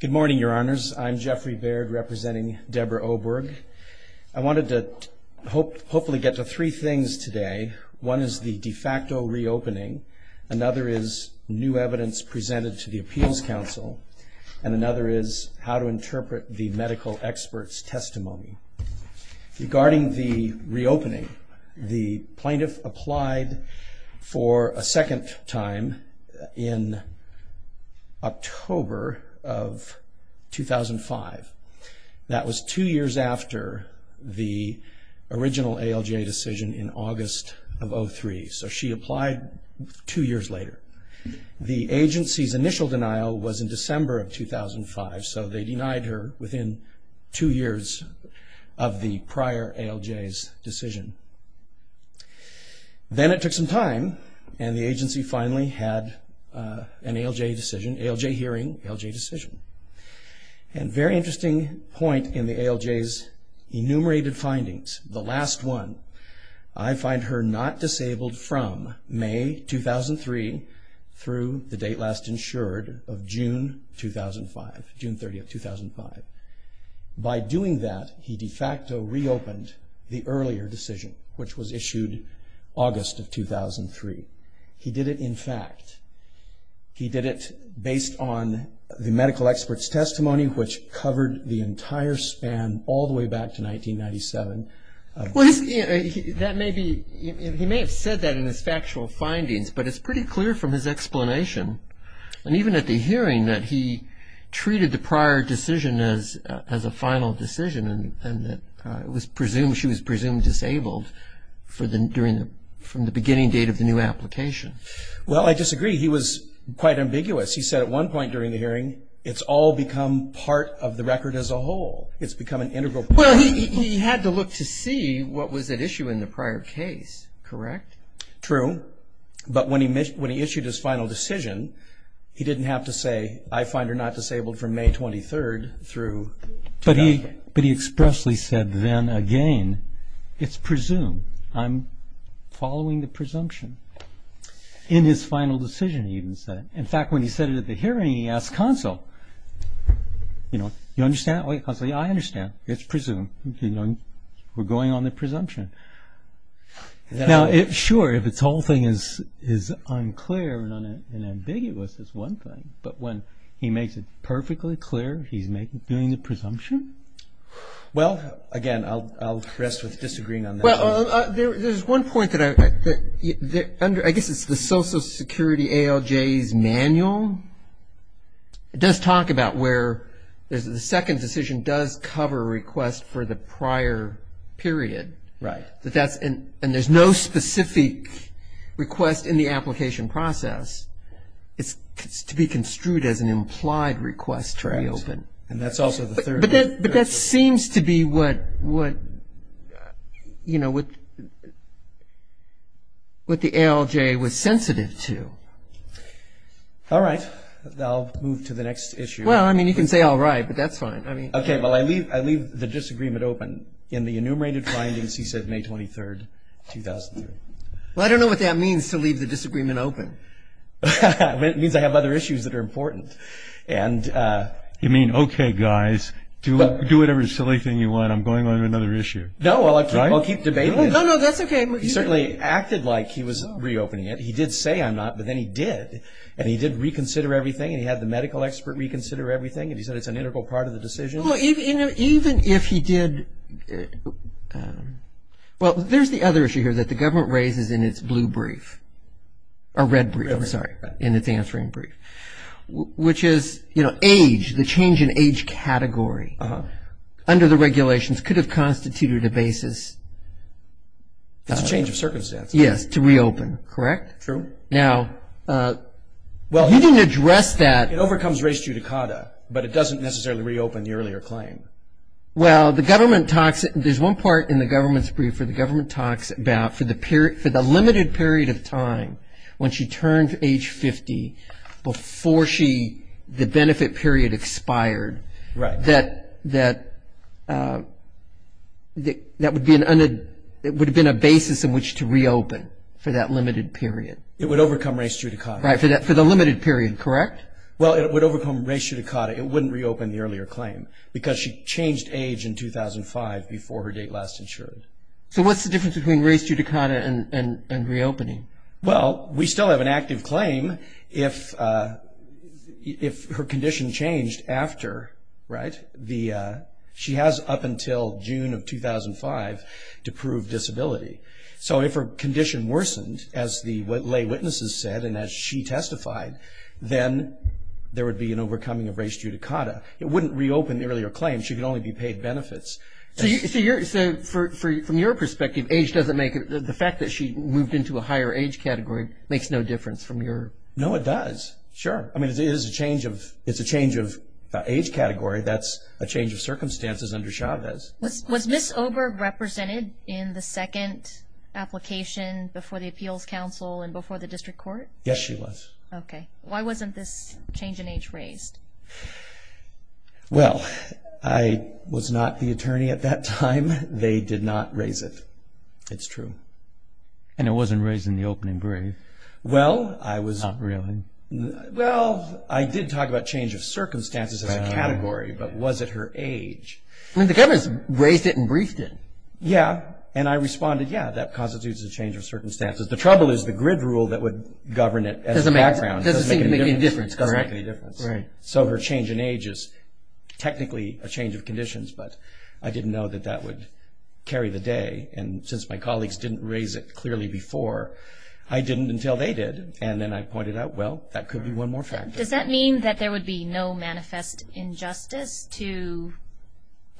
Good morning, Your Honors. I'm Jeffrey Baird, representing Deborah Oberg. I wanted to hopefully get to three things today. One is the de facto reopening. Another is new evidence presented to the Appeals Council. And another is how to interpret the medical experts' testimony. Regarding the reopening, the plaintiff applied for a second time in October of 2005. That was two years after the original ALGA decision in August of 2003. So she applied two years later. The agency's initial denial was in December of 2005, so they denied her within two years of the prior ALGA's decision. Then it took some time, and the agency finally had an ALGA decision, an ALGA hearing, an ALGA decision. And a very interesting point in the ALGA's enumerated findings, the last one, I find her not disabled from May 2003 through the date last insured of June 2005, June 30, 2005. By doing that, he de facto reopened the earlier decision, which was issued August of 2003. He did it, in fact, he did it based on the medical experts' testimony, which covered the entire span all the way back to 1997. He may have said that in his factual findings, but it's pretty clear from his explanation, and even at the hearing, that he treated the prior decision as a final decision, and that she was presumed disabled from the beginning date of the new application. Well, I disagree. He was quite ambiguous. He said at one point during the hearing, it's all become part of the record as a whole. It's become an integral part of the record. Well, he had to look to see what was at issue in the prior case, correct? True. But when he issued his final decision, he didn't have to say, I find her not disabled from May 23 through 2005. But he expressly said then again, it's presumed. I'm following the presumption. In his final decision, he even said it. In fact, when he said it at the hearing, he asked counsel, you understand? Counsel, yeah, I understand. It's presumed. We're going on the presumption. Now, sure, if this whole thing is unclear and ambiguous is one thing, but when he makes it perfectly clear, he's doing the presumption? Well, again, I'll rest with disagreeing on that. There's one point that I guess it's the Social Security ALJ's manual. It does talk about where the second decision does cover a request for the prior period. Right. And there's no specific request in the application process. It's to be construed as an implied request to reopen. And that's also the third. But that seems to be what, you know, what the ALJ was sensitive to. All right. I'll move to the next issue. Well, I mean, you can say all right, but that's fine. Okay, well, I leave the disagreement open. In the enumerated findings, he said May 23, 2003. Well, I don't know what that means to leave the disagreement open. It means I have other issues that are important. You mean, okay, guys, do whatever silly thing you want. I'm going on to another issue. No, I'll keep debating it. No, no, that's okay. He certainly acted like he was reopening it. He did say I'm not, but then he did. And he did reconsider everything, and he had the medical expert reconsider everything, and he said it's an integral part of the decision. Well, even if he did – well, there's the other issue here that the government raises in its blue brief. Or red brief, I'm sorry, in its answering brief. Which is, you know, age, the change in age category under the regulations could have constituted a basis. It's a change of circumstance. Yes, to reopen, correct? True. Now, he didn't address that. It overcomes race judicata, but it doesn't necessarily reopen the earlier claim. Well, the government talks – there's one part in the government's brief where the government talks about for the limited period of time when she turned age 50 before she – the benefit period expired. Right. That would be an – it would have been a basis in which to reopen for that limited period. It would overcome race judicata. Right, for the limited period, correct? Well, it would overcome race judicata. It wouldn't reopen the earlier claim because she changed age in 2005 before her date last insured. So what's the difference between race judicata and reopening? Well, we still have an active claim if her condition changed after, right? The – she has up until June of 2005 to prove disability. So if her condition worsened, as the lay witnesses said and as she testified, then there would be an overcoming of race judicata. It wouldn't reopen the earlier claim. She could only be paid benefits. So you're – so from your perspective, age doesn't make – the fact that she moved into a higher age category makes no difference from your – No, it does, sure. I mean, it is a change of – it's a change of age category. That's a change of circumstances under Chavez. Was Ms. Oberg represented in the second application before the Appeals Council and before the district court? Yes, she was. Okay. Why wasn't this change in age raised? Well, I was not the attorney at that time. They did not raise it. It's true. And it wasn't raised in the opening brief. Well, I was – Not really. Well, I did talk about change of circumstances as a category, but was it her age? I mean, the governors raised it and briefed it. Yeah, and I responded, yeah, that constitutes a change of circumstances. The trouble is the grid rule that would govern it as a background doesn't make any difference. Correct. Right. So her change in age is technically a change of conditions, but I didn't know that that would carry the day. And since my colleagues didn't raise it clearly before, I didn't until they did. And then I pointed out, well, that could be one more factor. Does that mean that there would be no manifest injustice to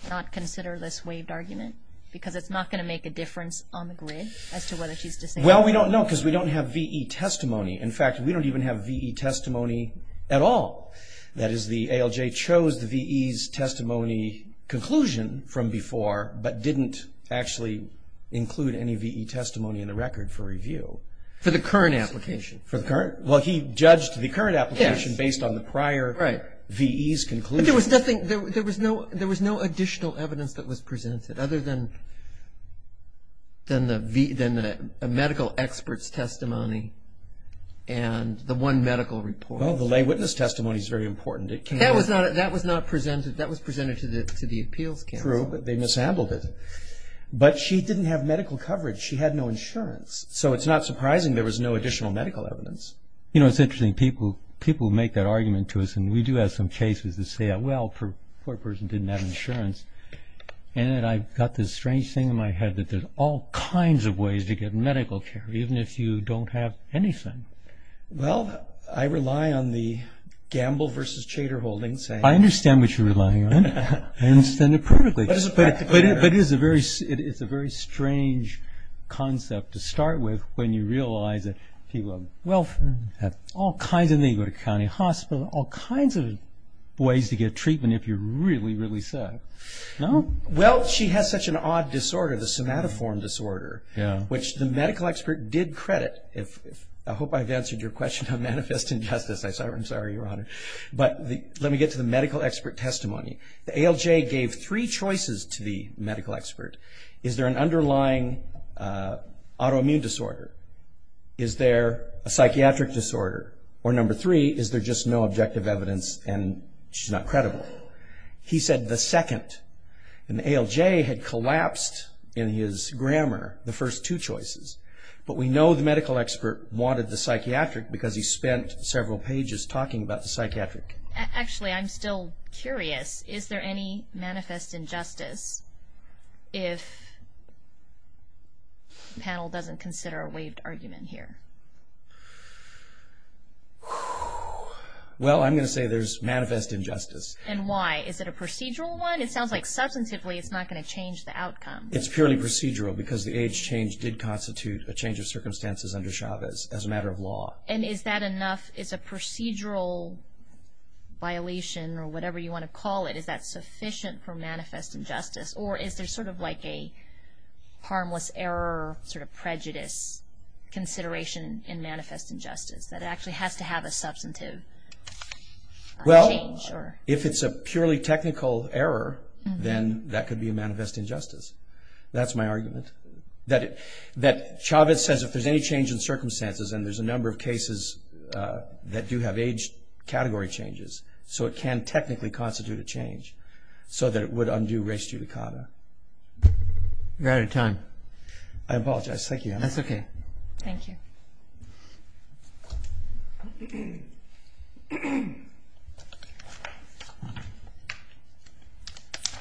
not consider this waived argument? Because it's not going to make a difference on the grid as to whether she's disabled. Well, we don't know because we don't have V.E. testimony. In fact, we don't even have V.E. testimony at all. That is, the ALJ chose the V.E.'s testimony conclusion from before, but didn't actually include any V.E. testimony in the record for review. For the current application. Well, he judged the current application based on the prior V.E.'s conclusion. There was no additional evidence that was presented other than a medical expert's testimony and the one medical report. Well, the lay witness testimony is very important. That was presented to the appeals counsel. True, but they mishandled it. But she didn't have medical coverage. She had no insurance. So it's not surprising there was no additional medical evidence. You know, it's interesting. People make that argument to us, and we do have some cases that say, well, poor person didn't have insurance. And then I've got this strange thing in my head that there's all kinds of ways to get medical care, even if you don't have anything. Well, I rely on the gamble versus chater holding saying. I understand what you're relying on. I understand it perfectly. But it's a very strange concept to start with when you realize that people of all kinds, and then you go to county hospital, all kinds of ways to get treatment if you really, really suck. No? Well, she has such an odd disorder, the somatoform disorder, which the medical expert did credit. I hope I've answered your question on manifest injustice. I'm sorry, Your Honor. But let me get to the medical expert testimony. The ALJ gave three choices to the medical expert. Is there an underlying autoimmune disorder? Is there a psychiatric disorder? Or number three, is there just no objective evidence and she's not credible? He said the second. And the ALJ had collapsed in his grammar, the first two choices. But we know the medical expert wanted the psychiatric because he spent several pages talking about the psychiatric. Actually, I'm still curious. Is there any manifest injustice if the panel doesn't consider a waived argument here? Well, I'm going to say there's manifest injustice. And why? Is it a procedural one? It sounds like substantively it's not going to change the outcome. It's purely procedural because the age change did constitute a change of circumstances under Chavez as a matter of law. And is that enough? Is a procedural violation or whatever you want to call it, is that sufficient for manifest injustice? Or is there sort of like a harmless error sort of prejudice consideration in manifest injustice that it actually has to have a substantive change? Well, if it's a purely technical error, then that could be a manifest injustice. That's my argument. That Chavez says if there's any change in circumstances, and there's a number of cases that do have age category changes, so it can technically constitute a change so that it would undo res judicata. We're out of time. I apologize. Thank you. That's okay. Thank you. Thank you.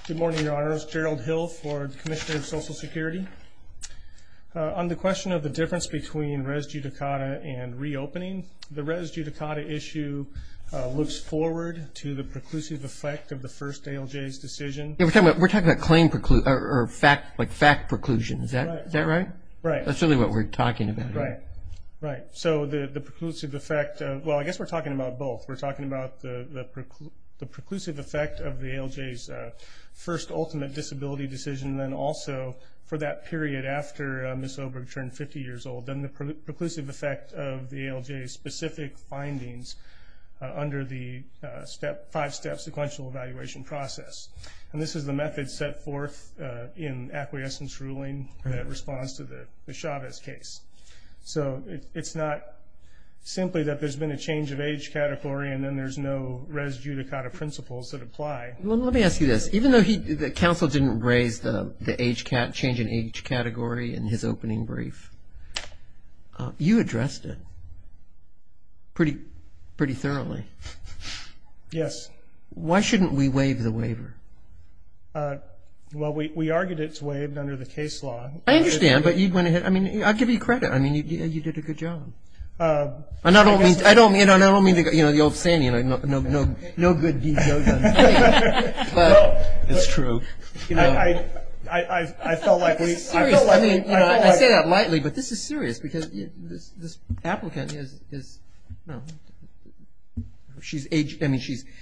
Good morning, Your Honors. Gerald Hill for the Commissioner of Social Security. On the question of the difference between res judicata and reopening, the res judicata issue looks forward to the preclusive effect of the first ALJ's decision. We're talking about claim or fact preclusion. Is that right? Right. That's really what we're talking about. Right. Right. So the preclusive effect, well, I guess we're talking about both. We're talking about the preclusive effect of the ALJ's first ultimate disability decision, and then also for that period after Ms. Oberg turned 50 years old, then the preclusive effect of the ALJ's specific findings under the five-step sequential evaluation process. And this is the method set forth in acquiescence ruling that responds to the Chavez case. So it's not simply that there's been a change of age category and then there's no res judicata principles that apply. Well, let me ask you this. Even though the counsel didn't raise the change in age category in his opening brief, you addressed it pretty thoroughly. Yes. Why shouldn't we waive the waiver? Well, we argued it's waived under the case law. I understand. But you went ahead. I mean, I'll give you credit. I mean, you did a good job. I don't mean, you know, the old saying, you know, no good deed, no done. But it's true. I felt like we – This is serious. I mean, you know, I say that lightly, but this is serious because this applicant is, you know, she's age – I mean, she's –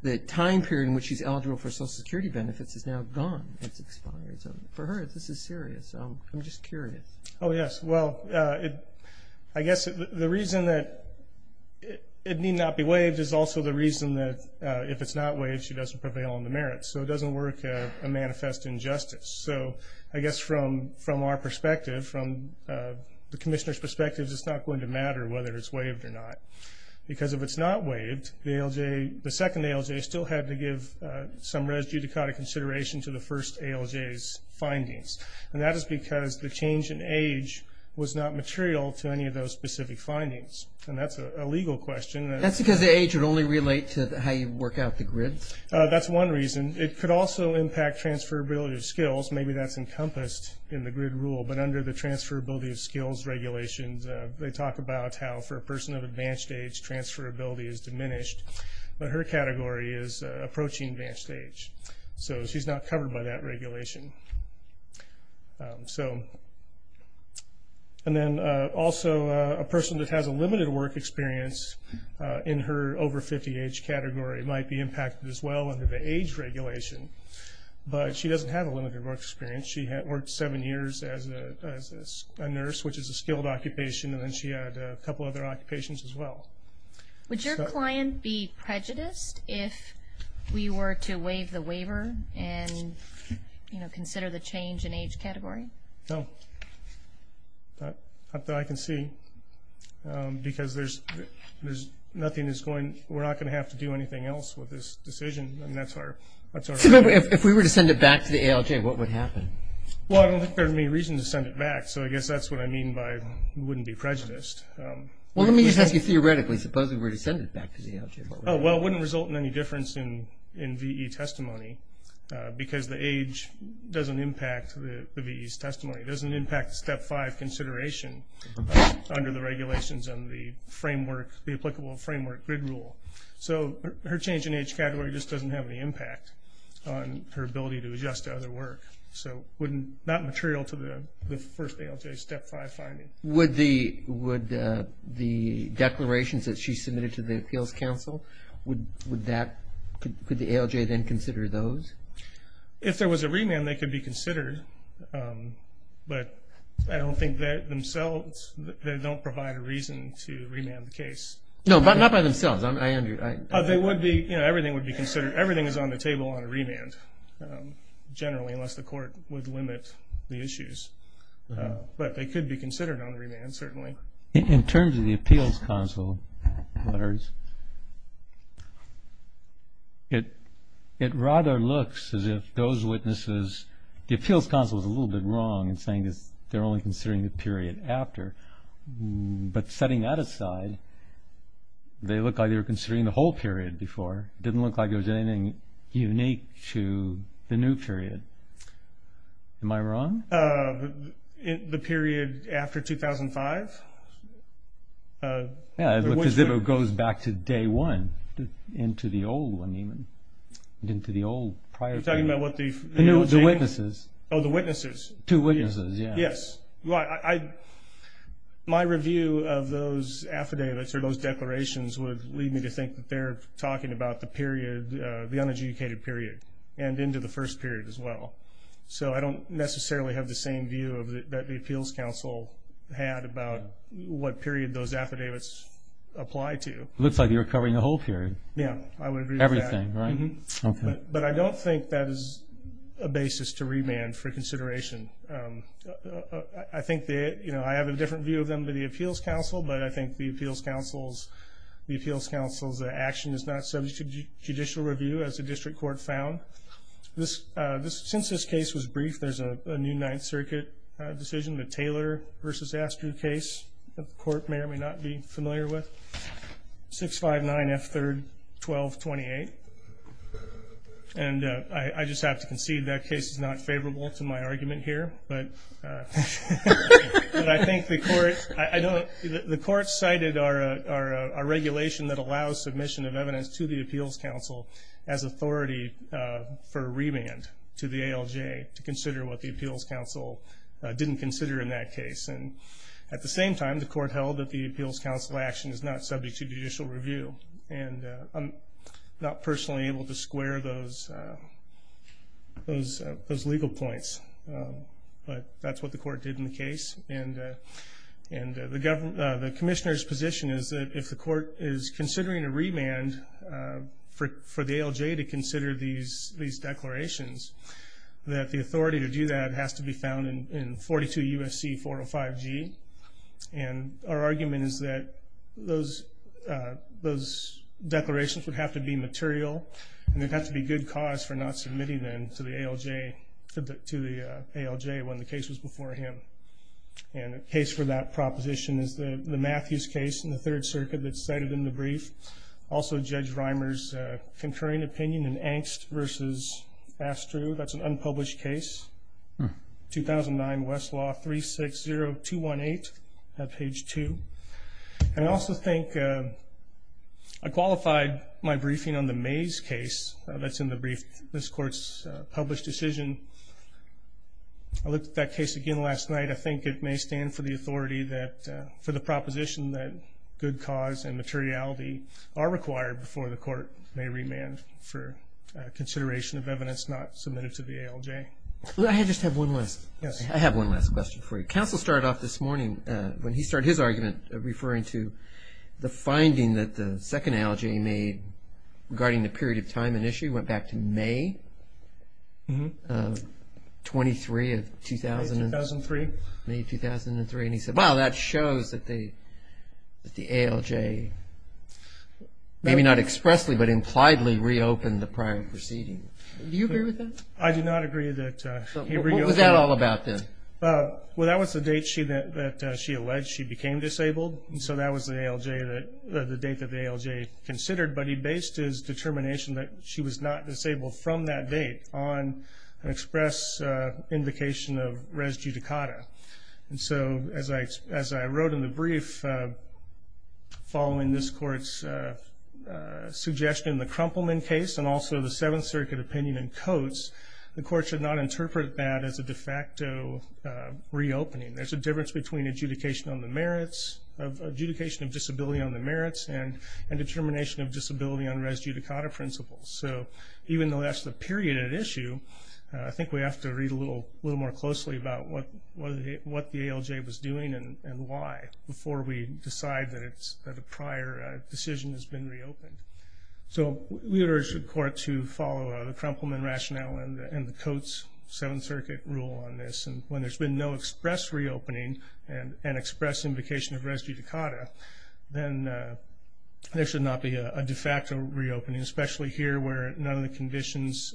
the time period in which she's eligible for Social Security benefits is now gone. It's expired. So for her, this is serious. I'm just curious. Oh, yes. Well, I guess the reason that it need not be waived is also the reason that if it's not waived, she doesn't prevail on the merits. So it doesn't work a manifest injustice. So I guess from our perspective, from the commissioner's perspective, it's not going to matter whether it's waived or not because if it's not waived, the ALJ – the second ALJ still had to give some res judicata consideration to the first ALJ's findings. And that is because the change in age was not material to any of those specific findings. And that's a legal question. That's because the age would only relate to how you work out the grid? That's one reason. It could also impact transferability of skills. Maybe that's encompassed in the grid rule. But under the transferability of skills regulations, they talk about how for a person of advanced age, transferability is diminished. But her category is approaching advanced age. So she's not covered by that regulation. And then also a person that has a limited work experience in her over 50 age category might be impacted as well under the age regulation. But she doesn't have a limited work experience. She worked seven years as a nurse, which is a skilled occupation, and then she had a couple other occupations as well. Would your client be prejudiced if we were to waive the waiver and consider the change in age category? No. Not that I can see. Because there's nothing that's going to do anything else with this decision. If we were to send it back to the ALJ, what would happen? Well, I don't think there's any reason to send it back. So I guess that's what I mean by wouldn't be prejudiced. Well, let me just ask you theoretically. Suppose we were to send it back to the ALJ. Well, it wouldn't result in any difference in V.E. testimony because the age doesn't impact the V.E.'s testimony. It doesn't impact the Step 5 consideration under the regulations and the applicable framework grid rule. So her change in age category just doesn't have any impact on her ability to adjust to other work. So not material to the first ALJ Step 5 finding. Would the declarations that she submitted to the Appeals Council, could the ALJ then consider those? If there was a remand, they could be considered. But I don't think that themselves, they don't provide a reason to remand the case. No, but not by themselves. Everything would be considered. Everything is on the table on a remand generally unless the court would limit the issues. But they could be considered on remand certainly. In terms of the Appeals Council letters, it rather looks as if those witnesses, the Appeals Council is a little bit wrong in saying they're only considering the period after. But setting that aside, they look like they were considering the whole period before. It didn't look like there was anything unique to the new period. Am I wrong? The period after 2005? Yeah, it looks as if it goes back to day one, into the old one even. Into the old prior period. You're talking about what the- No, the witnesses. Oh, the witnesses. Two witnesses, yeah. Yes. My review of those affidavits or those declarations would lead me to think that they're talking about the period, the unadjudicated period and into the first period as well. So I don't necessarily have the same view that the Appeals Council had about what period those affidavits apply to. It looks like you're covering the whole period. Yeah, I would agree with that. Everything, right? But I don't think that is a basis to remand for consideration. I think that I have a different view of them than the Appeals Council, but I think the Appeals Council's action is not subject to judicial review, as the district court found. Since this case was brief, there's a new Ninth Circuit decision, the Taylor v. Astruz case, that the court may or may not be familiar with, 659F3-1228. And I just have to concede that case is not favorable to my argument here. But I think the court cited our regulation that allows submission of evidence to the Appeals Council as authority for remand to the ALJ to consider what the Appeals Council didn't consider in that case. And at the same time, the court held that the Appeals Council action is not subject to judicial review. And I'm not personally able to square those legal points, but that's what the court did in the case. And the commissioner's position is that if the court is considering a remand for the ALJ to consider these declarations, that the authority to do that has to be found in 42 U.S.C. 405G. And our argument is that those declarations would have to be material, and they'd have to be good cause for not submitting them to the ALJ when the case was before him. And the case for that proposition is the Matthews case in the Third Circuit that's cited in the brief, also Judge Reimer's concurring opinion in Angst v. Astruz. That's an unpublished case, 2009 Westlaw 360218, page 2. And I also think I qualified my briefing on the Mays case that's in the brief, this court's published decision. I looked at that case again last night. I think it may stand for the authority that for the proposition that good cause and materiality are required before the court may remand for consideration of evidence not submitted to the ALJ. I just have one last question for you. Counsel started off this morning, when he started his argument referring to the finding that the second ALJ made regarding the period of time and issue, went back to May 23 of 2000. May 2003. And he said, wow, that shows that the ALJ maybe not expressly but impliedly reopened the prior proceeding. Do you agree with that? I do not agree that he reopened. What was that all about then? Well, that was the date that she alleged she became disabled, and so that was the date that the ALJ considered. But he based his determination that she was not disabled from that date on an express invocation of res judicata. And so as I wrote in the brief following this court's suggestion in the Crumpleman case and also the Seventh Circuit opinion in Coates, the court should not interpret that as a de facto reopening. There's a difference between adjudication of disability on the merits and determination of disability on res judicata principles. So even though that's the period at issue, I think we have to read a little more closely about what the ALJ was doing and why before we decide that a prior decision has been reopened. So we urge the court to follow the Crumpleman rationale and the Coates Seventh Circuit rule on this. And when there's been no express reopening and express invocation of res judicata, then there should not be a de facto reopening, especially here where none of the conditions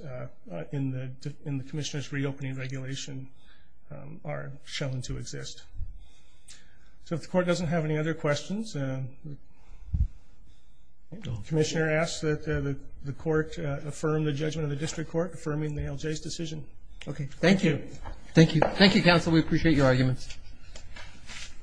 in the commissioner's reopening regulation are shown to exist. So if the court doesn't have any other questions, the commissioner asks that the court affirm the judgment of the district court affirming the ALJ's decision. Okay, thank you. Thank you. Thank you, counsel. We appreciate your arguments.